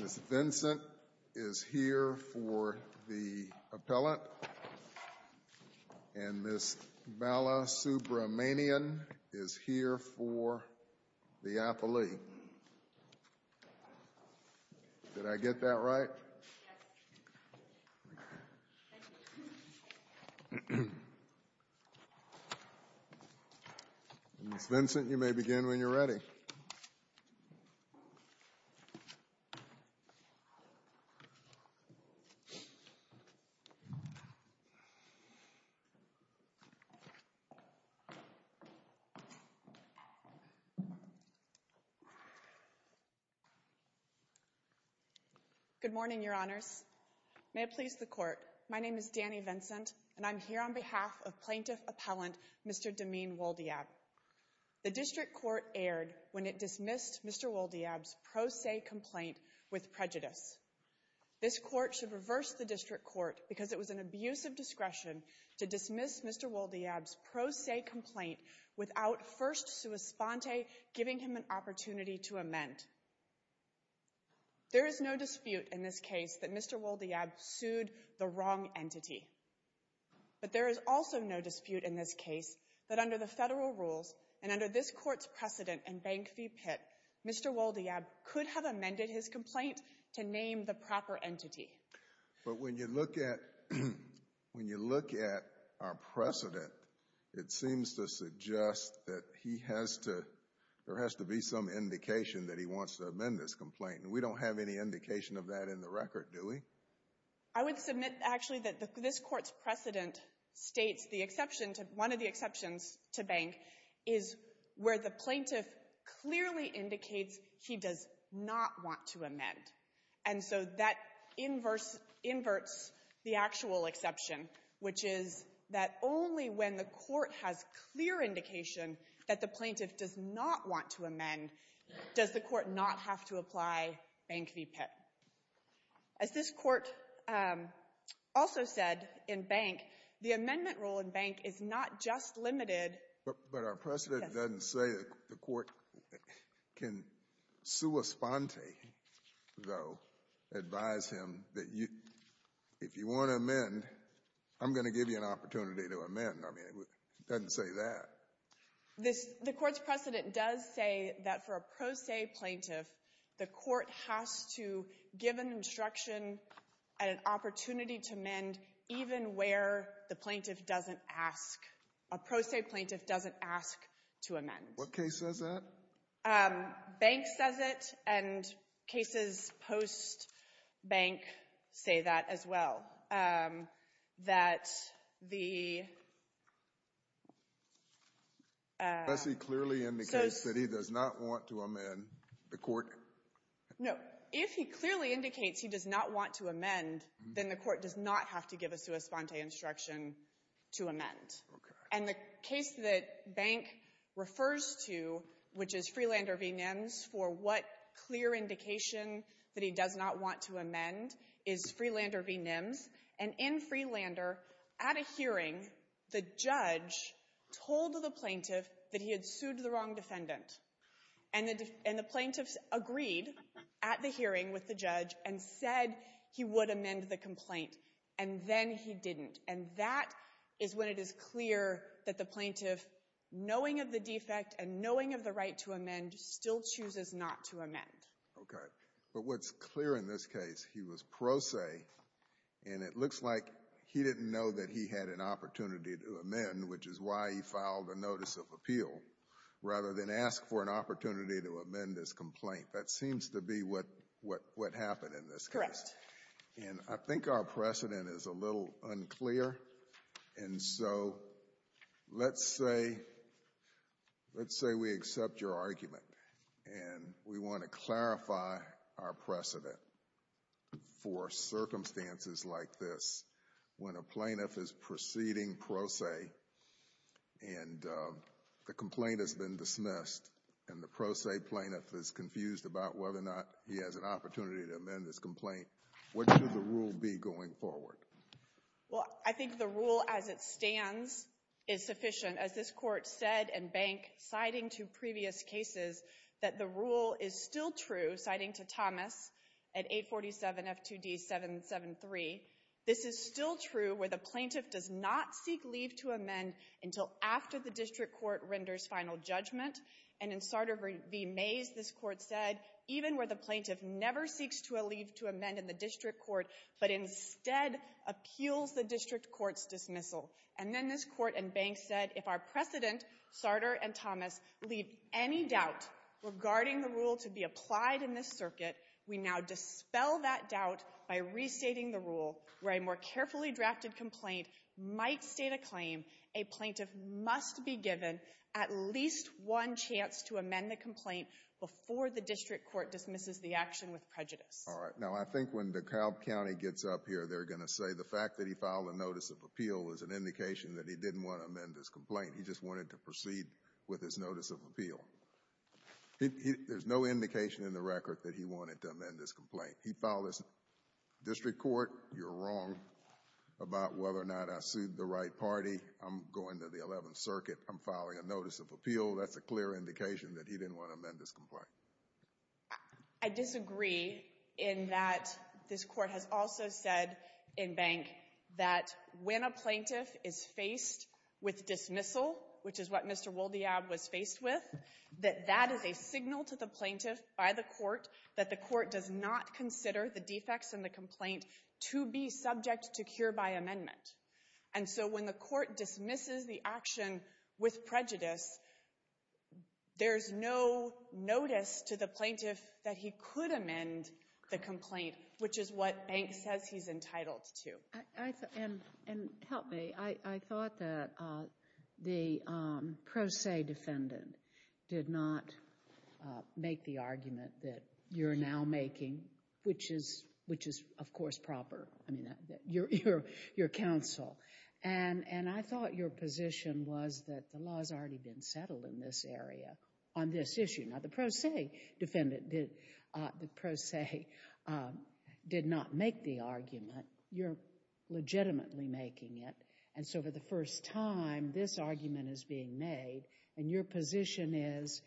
Ms. Vincent is here for the appellant, and Ms. Bala Subramanian is here for the athlete. Did I get that right? Ms. Vincent, you may begin when you're ready. Good morning, Your Honors. May it please the Court, my name is Dani Vincent, and I'm here on behalf of Plaintiff Appellant Mr. Damene Woldeab. The District Court erred when it dismissed Mr. Woldeab's pro se complaint with prejudice. This Court should reverse the District Court because it was an abuse of discretion to dismiss Mr. Woldeab's pro se complaint without First Suspente giving him an opportunity to amend. There is no dispute in this case that Mr. Woldeab sued the wrong entity. But there is also no dispute in this case that under the federal rules and under this Court's precedent in Bank v. Pitt, Mr. Woldeab could have amended his complaint to name the proper entity. But when you look at our precedent, it seems to suggest that there has to be some indication that he wants to amend this complaint, and we don't have any indication of that in the record, do we? I would submit, actually, that this Court's precedent states one of the exceptions to Bank is where the plaintiff clearly indicates he does not want to amend. And so that inverts the actual exception, which is that only when the Court has clear indication that the plaintiff does not want to amend does the Court not have to apply Bank v. Pitt. As this Court also said in Bank, the amendment rule in Bank is not just limited. But our precedent doesn't say the Court can sua sponte, though, advise him that if you want to amend, I'm going to give you an opportunity to amend. I mean, it doesn't say that. But the Court's precedent does say that for a pro se plaintiff, the Court has to give an instruction and an opportunity to amend even where the plaintiff doesn't ask, a pro se plaintiff doesn't ask to amend. What case says that? Bank says it, and cases post-Bank say that as well. Does he clearly indicate that he does not want to amend the Court? No. If he clearly indicates he does not want to amend, then the Court does not have to give a sua sponte instruction to amend. Okay. And the case that Bank refers to, which is Freelander v. Nims, for what clear indication that he does not want to amend is Freelander v. Nims. And in Freelander, at a hearing, the judge told the plaintiff that he had sued the wrong defendant. And the plaintiff agreed at the hearing with the judge and said he would amend the complaint. And then he didn't. And that is when it is clear that the plaintiff, knowing of the defect and knowing of the right to amend, still chooses not to amend. Okay. But what's clear in this case, he was pro se, and it looks like he didn't know that he had an opportunity to amend, which is why he filed a notice of appeal, rather than ask for an opportunity to amend his complaint. That seems to be what happened in this case. Correct. And I think our precedent is a little unclear. And so let's say we accept your argument, and we want to clarify our precedent for circumstances like this, when a plaintiff is proceeding pro se, and the complaint has been dismissed, and the pro se plaintiff is confused about whether or not he has an opportunity to amend his complaint, what should the rule be going forward? Well, I think the rule as it stands is sufficient. As this Court said in Bank, citing two previous cases, that the rule is still true, citing to Thomas at 847F2D773, this is still true where the plaintiff does not seek leave to amend until after the district court renders final judgment. And in Sardar v. Mays, this Court said, even where the plaintiff never seeks to leave to amend in the district court, but instead appeals the district court's dismissal. And then this Court in Bank said, if our precedent, Sardar and Thomas, leave any doubt regarding the rule to be applied in this circuit, we now dispel that doubt by restating the rule where a more carefully drafted complaint might state a claim, a plaintiff must be given at least one chance to amend the complaint before the district court dismisses the action with prejudice. All right. Now, I think when DeKalb County gets up here, they're going to say the fact that he filed a notice of appeal is an indication that he didn't want to amend his complaint. He just wanted to proceed with his notice of appeal. There's no indication in the record that he wanted to amend his complaint. He filed his district court. You're wrong about whether or not I sued the right party. I'm going to the Eleventh Circuit. I'm filing a notice of appeal. That's a clear indication that he didn't want to amend his complaint. I disagree in that this Court has also said in Bank that when a plaintiff is faced with dismissal, which is what Mr. Woldeab was faced with, that that is a signal to the plaintiff by the Court that the Court does not consider the defects in the complaint to be subject to cure by amendment. And so when the Court dismisses the action with prejudice, there's no notice to the plaintiff that he could amend the complaint, which is what Bank says he's entitled to. And help me. I thought that the pro se defendant did not make the argument that you're now making, which is, of course, proper. I mean, you're counsel. And I thought your position was that the law has already been settled in this area on this issue. Now, the pro se defendant did not make the argument. You're legitimately making it. And so for the first time, this argument is being made. And your position is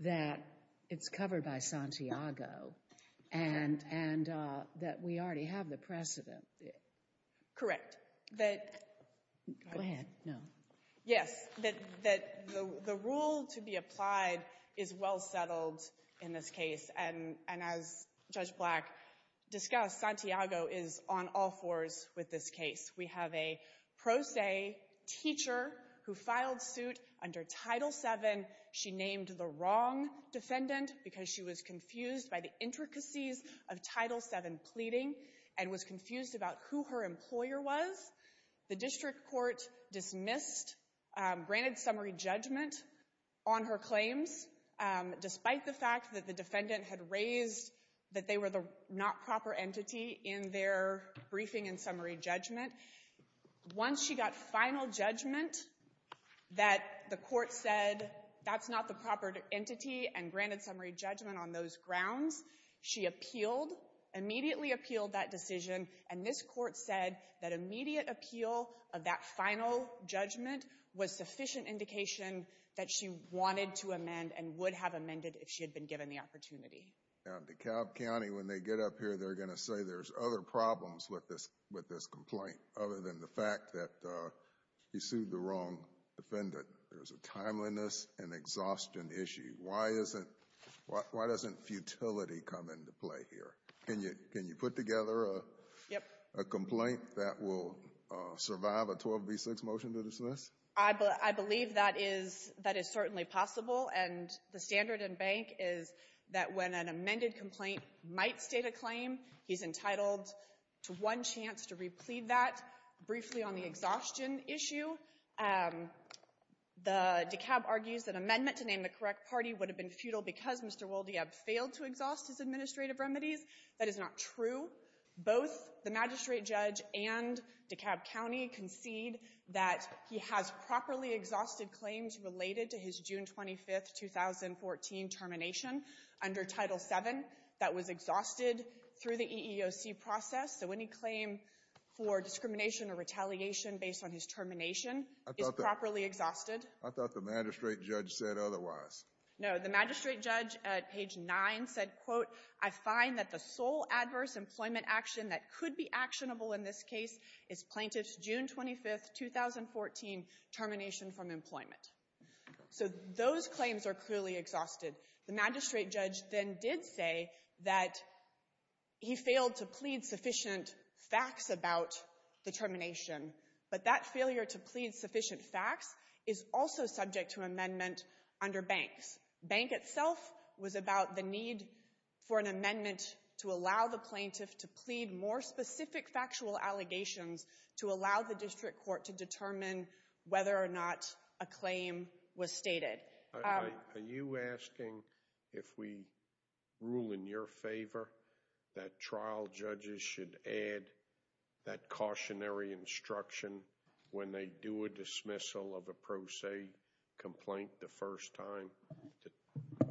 that it's covered by Santiago and that we already have the precedent. Correct. Go ahead. No. Santiago is on all fours with this case. We have a pro se teacher who filed suit under Title VII. She named the wrong defendant because she was confused by the intricacies of Title VII pleading and was confused about who her employer was. The district court dismissed, granted summary judgment on her claims, despite the fact that the defendant had raised that they were the not proper entity in their briefing and summary judgment. Once she got final judgment that the court said that's not the proper entity and granted summary judgment on those grounds, she appealed, immediately appealed that decision. And this court said that immediate appeal of that final judgment was sufficient indication that she wanted to amend and would have amended if she had been given the opportunity. DeKalb County, when they get up here, they're going to say there's other problems with this complaint other than the fact that you sued the wrong defendant. There's a timeliness and exhaustion issue. Why doesn't futility come into play here? Can you put together a complaint that will survive a 12B6 motion to dismiss? I believe that is certainly possible. And the standard in Bank is that when an amended complaint might state a claim, he's entitled to one chance to replete that. Briefly on the exhaustion issue, DeKalb argues that amendment to name the correct party would have been futile because Mr. Woldeab failed to exhaust his administrative remedies. That is not true. Both the magistrate judge and DeKalb County concede that he has properly exhausted claims related to his June 25, 2014 termination under Title VII that was exhausted through the EEOC process. So any claim for discrimination or retaliation based on his termination is properly exhausted. I thought the magistrate judge said otherwise. No, the magistrate judge at page 9 said, quote, I find that the sole adverse employment action that could be actionable in this case is plaintiff's June 25, 2014 termination from employment. So those claims are clearly exhausted. The magistrate judge then did say that he failed to plead sufficient facts about the Bank itself was about the need for an amendment to allow the plaintiff to plead more specific factual allegations to allow the district court to determine whether or not a claim was stated. Are you asking if we rule in your favor that trial judges should add that cautionary instruction when they do a dismissal of a pro se complaint the first time?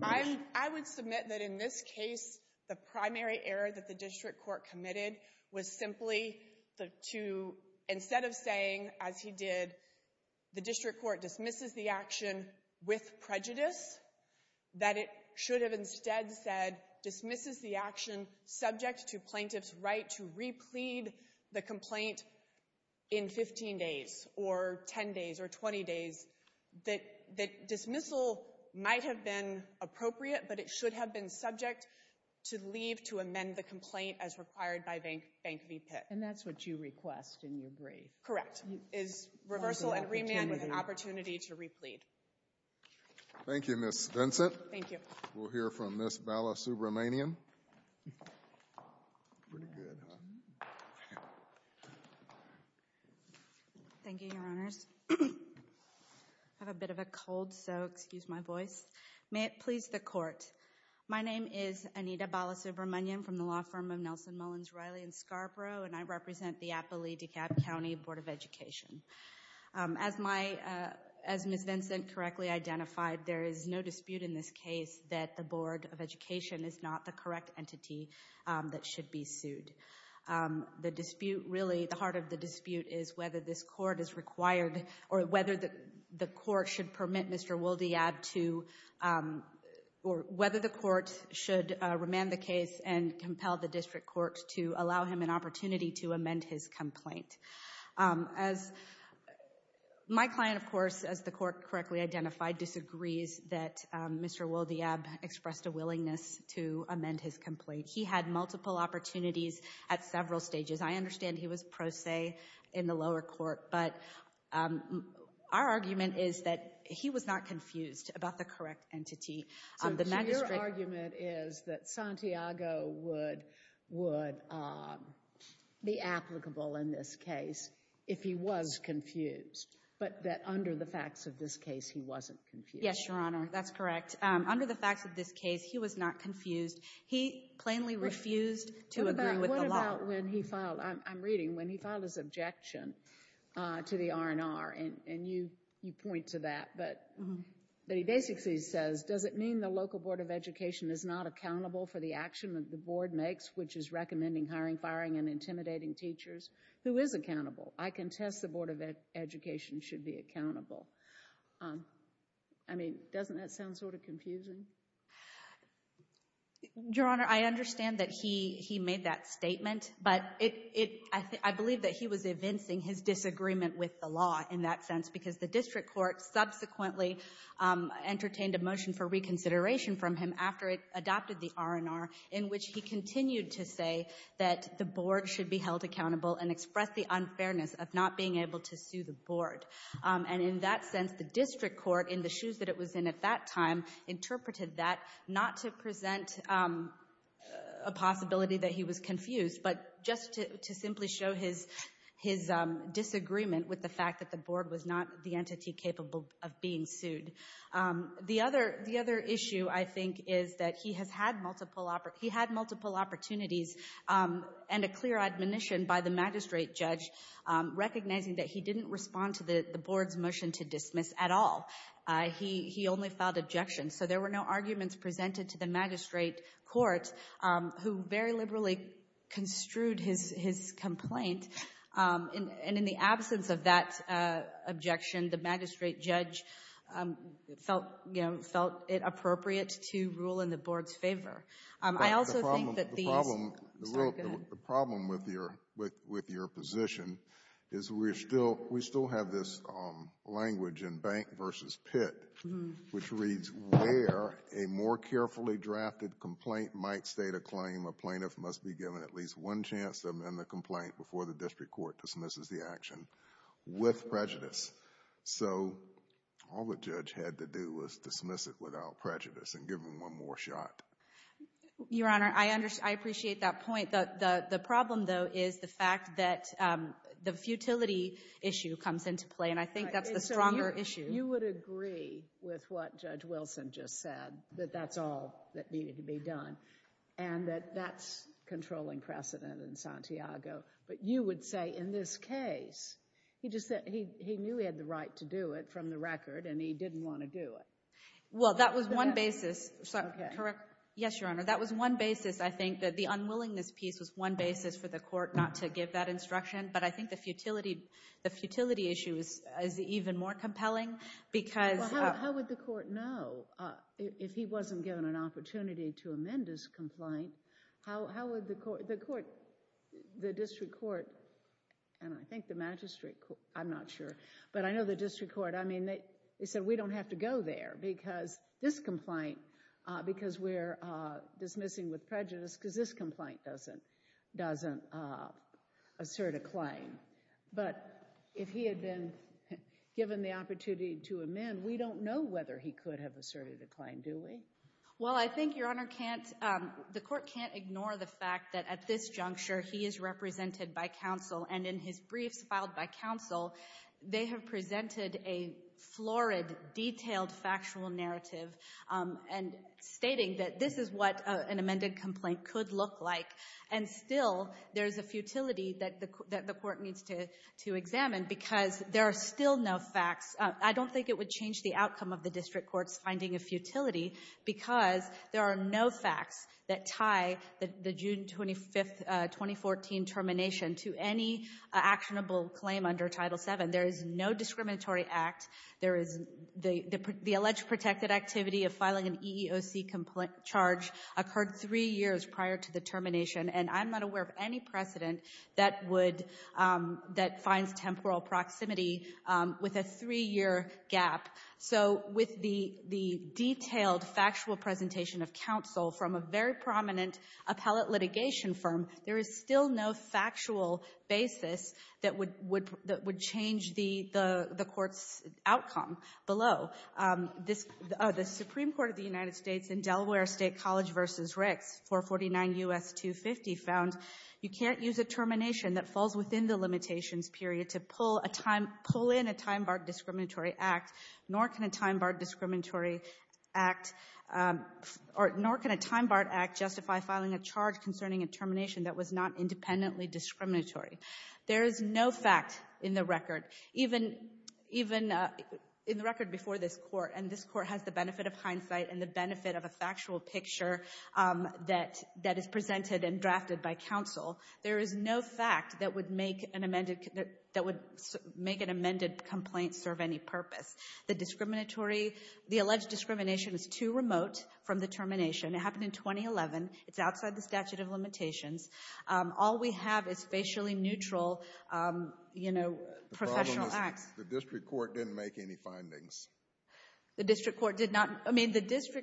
I would submit that in this case, the primary error that the district court committed was simply to, instead of saying, as he did, the district court dismisses the action with prejudice, that it should have instead said dismisses the action subject to plaintiff's right to 15 days or 10 days or 20 days, that dismissal might have been appropriate, but it should have been subject to leave to amend the complaint as required by Bank v. Pitt. And that's what you request in your brief? Correct. Is reversal and remand with an opportunity to replead? Thank you, Ms. Vincent. Thank you. We'll hear from Ms. Bala Subramanian. Pretty good, huh? Thank you, Your Honors. I have a bit of a cold, so excuse my voice. May it please the court. My name is Anita Bala Subramanian from the law firm of Nelson, Mullins, Riley & Scarborough, and I represent the Appalachee County Board of Education. As Ms. Vincent correctly identified, there is no dispute in this case that the Board of Education is not the correct entity that should be sued. The dispute, really, the heart of the dispute is whether this court is required, or whether the court should permit Mr. Woldeab to, or whether the court should remand the case and compel the district court to allow him an opportunity to amend his complaint. As my client, of course, as the court correctly identified, disagrees that Mr. Woldeab expressed a willingness to amend his complaint. He had multiple opportunities at several stages. I understand he was pro se in the lower court, but our argument is that he was not confused about the correct entity. So your argument is that Santiago would be applicable in this case if he was confused, but that under the facts of this case he wasn't confused? Yes, Your Honor, that's correct. Under the facts of this case, he was not confused. He plainly refused to agree with the law. What about when he filed, I'm reading, when he filed his objection to the R&R, and you point to that, but he basically says, does it mean the local Board of Education is not accountable for the action that the Board makes, which is recommending hiring, firing, and intimidating teachers? I contest the Board of Education should be accountable. I mean, doesn't that sound sort of confusing? Your Honor, I understand that he made that statement, but I believe that he was evincing his disagreement with the law in that sense because the district court subsequently entertained a motion for reconsideration from him after it adopted the R&R in which he continued to say that the Board should be held accountable and express the unfairness of not being able to sue the Board. And in that sense, the district court, in the shoes that it was in at that time, interpreted that not to present a possibility that he was confused, but just to simply show his disagreement with the fact that the Board was not the entity capable of being sued. The other issue, I think, is that he had multiple opportunities and a clear admonition by the magistrate judge recognizing that he didn't respond to the Board's motion to dismiss at all. He only filed objections. So there were no arguments presented to the magistrate court, who very liberally construed his complaint. And in the absence of that objection, the magistrate judge felt, you know, felt it appropriate to rule in the Board's favor. The problem with your position is we still have this language in Bank v. Pitt, which reads, where a more carefully drafted complaint might state a claim, a plaintiff must be given at least one chance to amend the complaint before the district court dismisses the action with prejudice. So all the judge had to do was dismiss it without prejudice and give him one more shot. Your Honor, I appreciate that point. The problem, though, is the fact that the futility issue comes into play, and I think that's the stronger issue. You would agree with what Judge Wilson just said, that that's all that needed to be done, and that that's controlling precedent in Santiago. But you would say, in this case, he knew he had the right to do it from the record, and he didn't want to do it. Well, that was one basis. Yes, Your Honor. That was one basis, I think, that the unwillingness piece was one basis for the court not to give that instruction, but I think the futility issue is even more compelling because How would the court know if he wasn't given an opportunity to amend his complaint? How would the court, the district court, and I think the magistrate court, I'm not sure, but I know the district court, they said, We don't have to go there because this complaint, because we're dismissing with prejudice because this complaint doesn't assert a claim. But if he had been given the opportunity to amend, we don't know whether he could have asserted a claim, do we? Well, I think, Your Honor, the court can't ignore the fact that at this juncture, he is represented by counsel, and in his briefs filed by counsel, they have presented a florid, detailed, factual narrative, and stating that this is what an amended complaint could look like, and still there's a futility that the court needs to examine because there are still no facts. I don't think it would change the outcome of the district court's finding of futility because there are no facts that tie the June 25, 2014, termination to any actionable claim under Title VII. There is no discriminatory act. The alleged protected activity of filing an EEOC complaint charge occurred three years prior to the termination, and I'm not aware of any precedent that would, that finds temporal proximity with a three-year gap. So with the detailed, factual presentation of counsel from a very prominent appellate litigation firm, there is still no factual basis that would change the court's outcome below. The Supreme Court of the United States in Delaware State College v. Ricks, 449 U.S. 250, found you can't use a termination that falls within the limitations period to pull in a time-barred discriminatory act, nor can a time-barred discriminatory act, nor can a time-barred act justify filing a charge concerning a termination that was not independently discriminatory. There is no fact in the record, even in the record before this Court, and this Court has the benefit of hindsight and the benefit of a factual picture that is presented and drafted by counsel. There is no fact that would make an amended, that would make an amended complaint serve any purpose. The discriminatory, the alleged discrimination is too remote from the termination. It happened in 2011. It's outside the statute of limitations. All we have is facially neutral, you know, professional acts. The problem is the district court didn't make any findings. The district court did not. The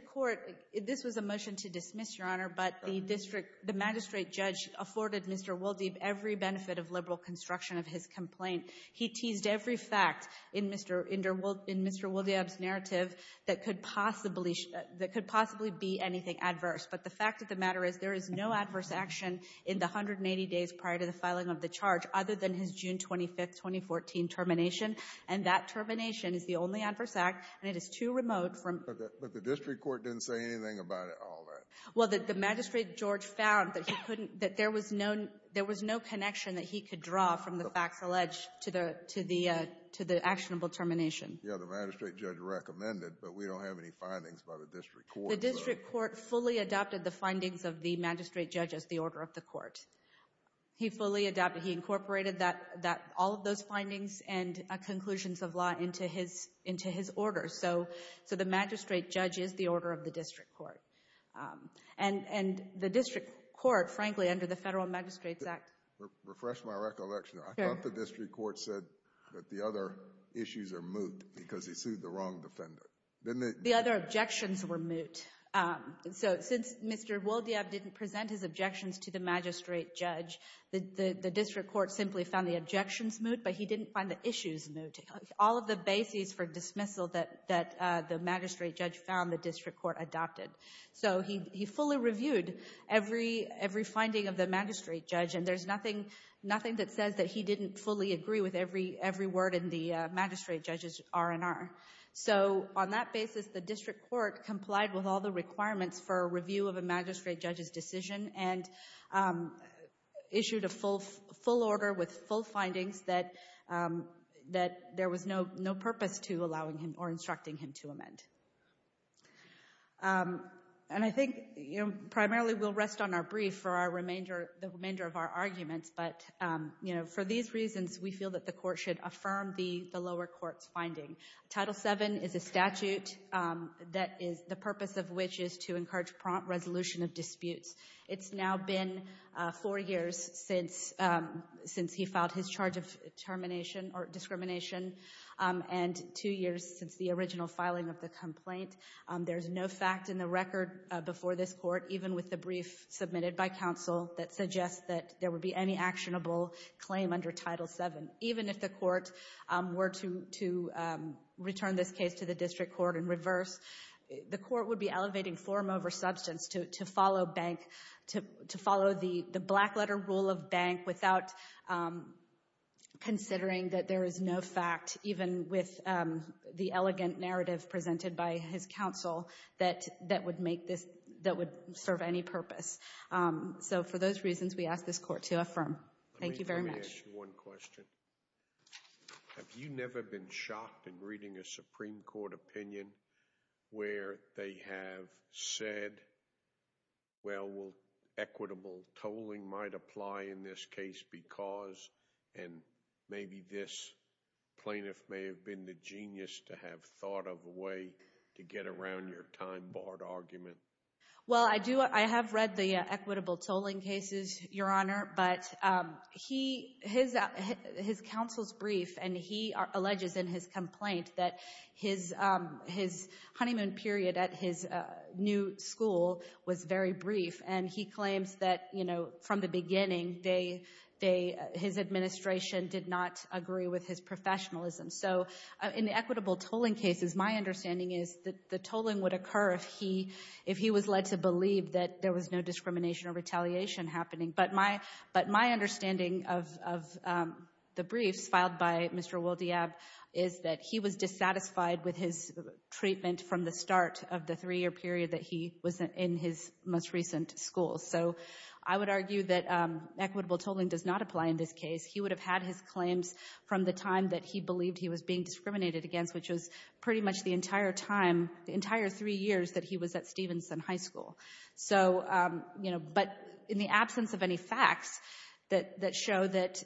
magistrate judge afforded Mr. Woldeb every benefit of liberal construction of his complaint. He teased every fact in Mr. Woldeb's narrative that could possibly be anything adverse. But the fact of the matter is there is no adverse action in the 180 days prior to the filing of the charge, other than his June 25, 2014, termination, and that termination is the only adverse act, and it is too remote from — But the district court didn't say anything about all that. Well, the magistrate judge found that there was no connection that he could draw from the facts alleged to the actionable termination. Yeah, the magistrate judge recommended, but we don't have any findings by the district court. The district court fully adopted the findings of the magistrate judge as the order of the court. He fully adopted. He incorporated all of those findings and conclusions of law into his order. So the magistrate judge is the order of the district court. And the district court, frankly, under the Federal Magistrates Act — Refresh my recollection. I thought the district court said that the other issues are moot because he sued the wrong defendant. The other objections were moot. So since Mr. Woldeb didn't present his objections to the magistrate judge, the district court simply found the objections moot, but he didn't find the issues moot. All of the bases for dismissal that the magistrate judge found, the district court adopted. So he fully reviewed every finding of the magistrate judge, and there's nothing that says that he didn't fully agree with every word in the magistrate judge's R&R. So on that basis, the district court complied with all the requirements for a review of a magistrate judge's decision and issued a full order with full findings that there was no purpose to allowing him or instructing him to amend. And I think primarily we'll rest on our brief for the remainder of our arguments, but for these reasons, we feel that the court should affirm the lower court's finding. Title VII is a statute that is the purpose of which is to encourage prompt resolution of disputes. It's now been four years since he filed his charge of termination or discrimination and two years since the original filing of the complaint. There's no fact in the record before this court, even with the brief submitted by counsel, that suggests that there would be any actionable claim under Title VII, even if the court were to return this case to the district court in reverse. The court would be elevating forum over substance to follow the black-letter rule of bank without considering that there is no fact, even with the elegant narrative presented by his counsel, that would serve any purpose. So for those reasons, we ask this court to affirm. Thank you very much. Let me ask you one question. Have you never been shocked in reading a Supreme Court opinion where they have said, well, equitable tolling might apply in this case because, and maybe this plaintiff may have been the genius to have thought of a way to get around your time-barred argument? Well, I have read the equitable tolling cases, Your Honor, but his counsel's brief, and he alleges in his complaint, that his honeymoon period at his new school was very brief, and he claims that from the beginning his administration did not agree with his professionalism. So in the equitable tolling cases, my understanding is that the tolling would occur if he was led to believe that there was no discrimination or retaliation happening. But my understanding of the briefs filed by Mr. Woldeab is that he was dissatisfied with his treatment from the start of the three-year period that he was in his most recent school. So I would argue that equitable tolling does not apply in this case. He would have had his claims from the time that he believed he was being discriminated against, which was pretty much the entire time, the entire three years that he was at Stevenson High School. So, you know, but in the absence of any facts that show that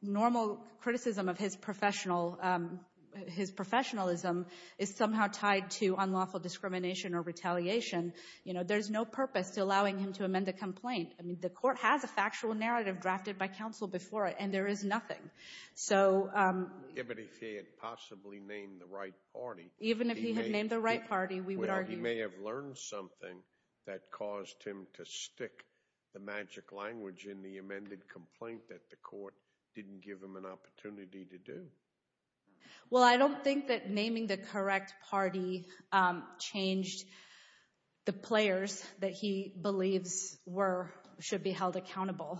normal criticism of his professionalism is somehow tied to unlawful discrimination or retaliation, you know, there's no purpose to allowing him to amend a complaint. I mean, the Court has a factual narrative drafted by counsel before it, and there is nothing. So – Even if he had possibly named the right party. Even if he had named the right party, we would argue – He may have learned something that caused him to stick the magic language in the amended complaint that the Court didn't give him an opportunity to do. Well, I don't think that naming the correct party changed the players that he believes were – should be held accountable.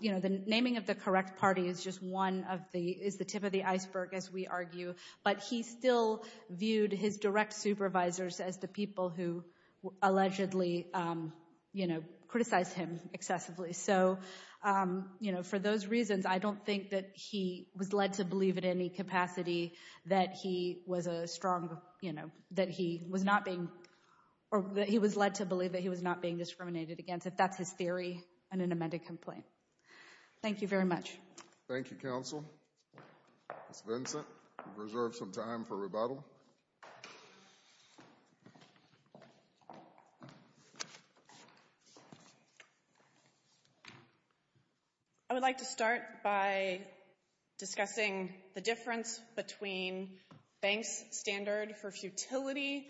You know, the naming of the correct party is just one of the – is the tip of the iceberg, as we argue. But he still viewed his direct supervisors as the people who allegedly, you know, criticized him excessively. So, you know, for those reasons, I don't think that he was led to believe in any capacity that he was a strong – you know, that he was not being – or that he was led to believe that he was not being discriminated against, if that's his theory in an amended complaint. Thank you very much. Thank you, counsel. Ms. Vincent, you've reserved some time for rebuttal. I would like to start by discussing the difference between Banks' standard for futility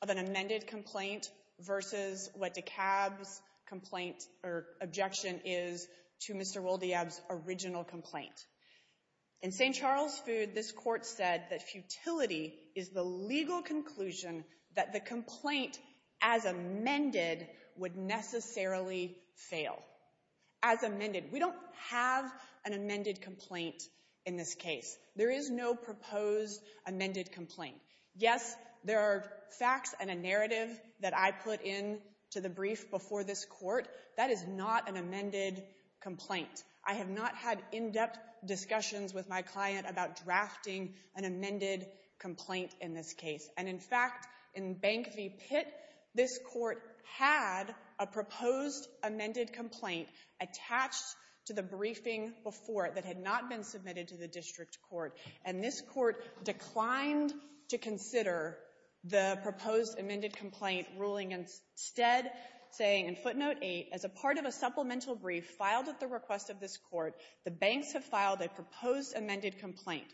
of an amended complaint versus what DeKalb's complaint or objection is to Mr. Woldeab's original complaint. In St. Charles' Food, this Court said that futility is the legal conclusion that the complaint as amended would necessarily fail. As amended. We don't have an amended complaint in this case. There is no proposed amended complaint. Yes, there are facts and a narrative that I put in to the brief before this Court. That is not an amended complaint. I have not had in-depth discussions with my client about drafting an amended complaint in this case. And, in fact, in Bank v. Pitt, this Court had a proposed amended complaint attached to the briefing before it that had not been submitted to the district court. And this court declined to consider the proposed amended complaint, ruling instead, saying in footnote 8, as a part of a supplemental brief filed at the request of this court, the banks have filed a proposed amended complaint.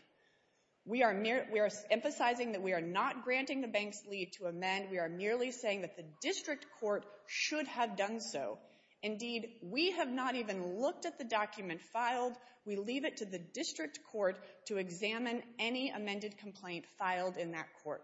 We are emphasizing that we are not granting the banks' leave to amend. We are merely saying that the district court should have done so. Indeed, we have not even looked at the document filed. We leave it to the district court to examine any amended complaint filed in that court.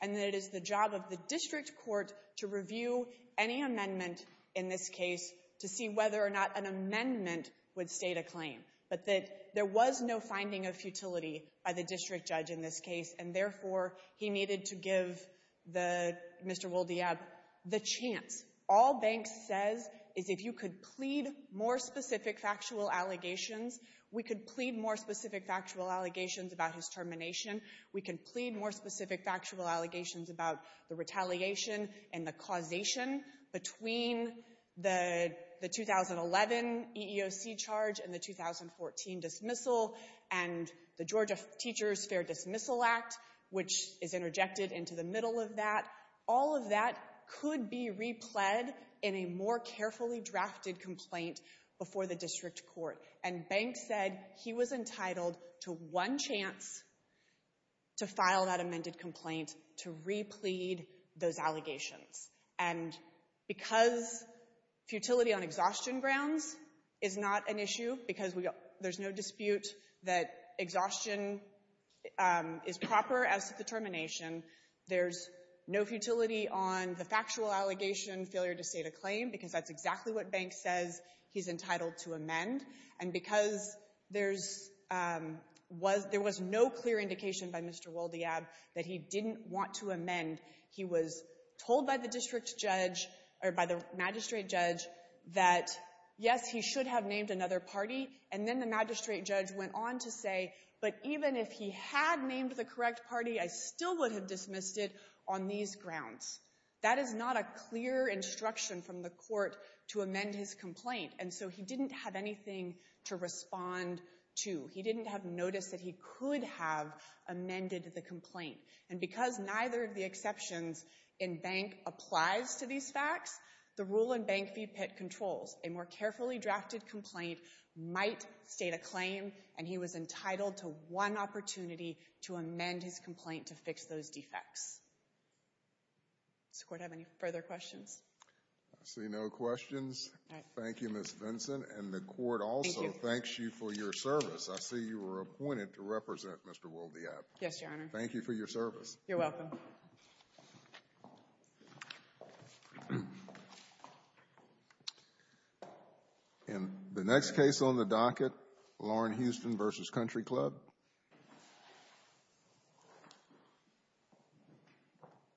And that it is the job of the district court to review any amendment in this case to see whether or not an amendment would state a claim, but that there was no finding of futility by the district judge in this case, and, therefore, he needed to give the Mr. Woldeab the chance. All banks says is if you could plead more specific factual allegations, we could plead more specific factual allegations about his termination. We can plead more specific factual allegations about the retaliation and the causation between the 2011 EEOC charge and the 2014 dismissal and the Georgia Teachers Fair Dismissal Act, which is interjected into the middle of that. All of that could be repled in a more carefully drafted complaint before the district court. And Banks said he was entitled to one chance to file that amended complaint to replede those allegations. And because futility on exhaustion grounds is not an issue, because there's no dispute that exhaustion is proper as to the termination, there's no futility on the factual allegation failure to state a claim because that's exactly what Banks says he's entitled to amend. And because there was no clear indication by Mr. Woldeab that he didn't want to amend, he was told by the magistrate judge that, yes, he should have named another party, and then the magistrate judge went on to say, but even if he had named the correct party, I still would have dismissed it on these grounds. That is not a clear instruction from the court to amend his complaint, and so he didn't have anything to respond to. He didn't have notice that he could have amended the complaint. And because neither of the exceptions in Bank applies to these facts, the rule in Bank v. Pitt controls. A more carefully drafted complaint might state a claim, and he was entitled to one opportunity to amend his complaint to fix those defects. Does the court have any further questions? I see no questions. Thank you, Ms. Vinson. And the court also thanks you for your service. I see you were appointed to represent Mr. Woldeab. Yes, Your Honor. Thank you for your service. You're welcome. And the next case on the docket, Lauren Houston v. Country Club.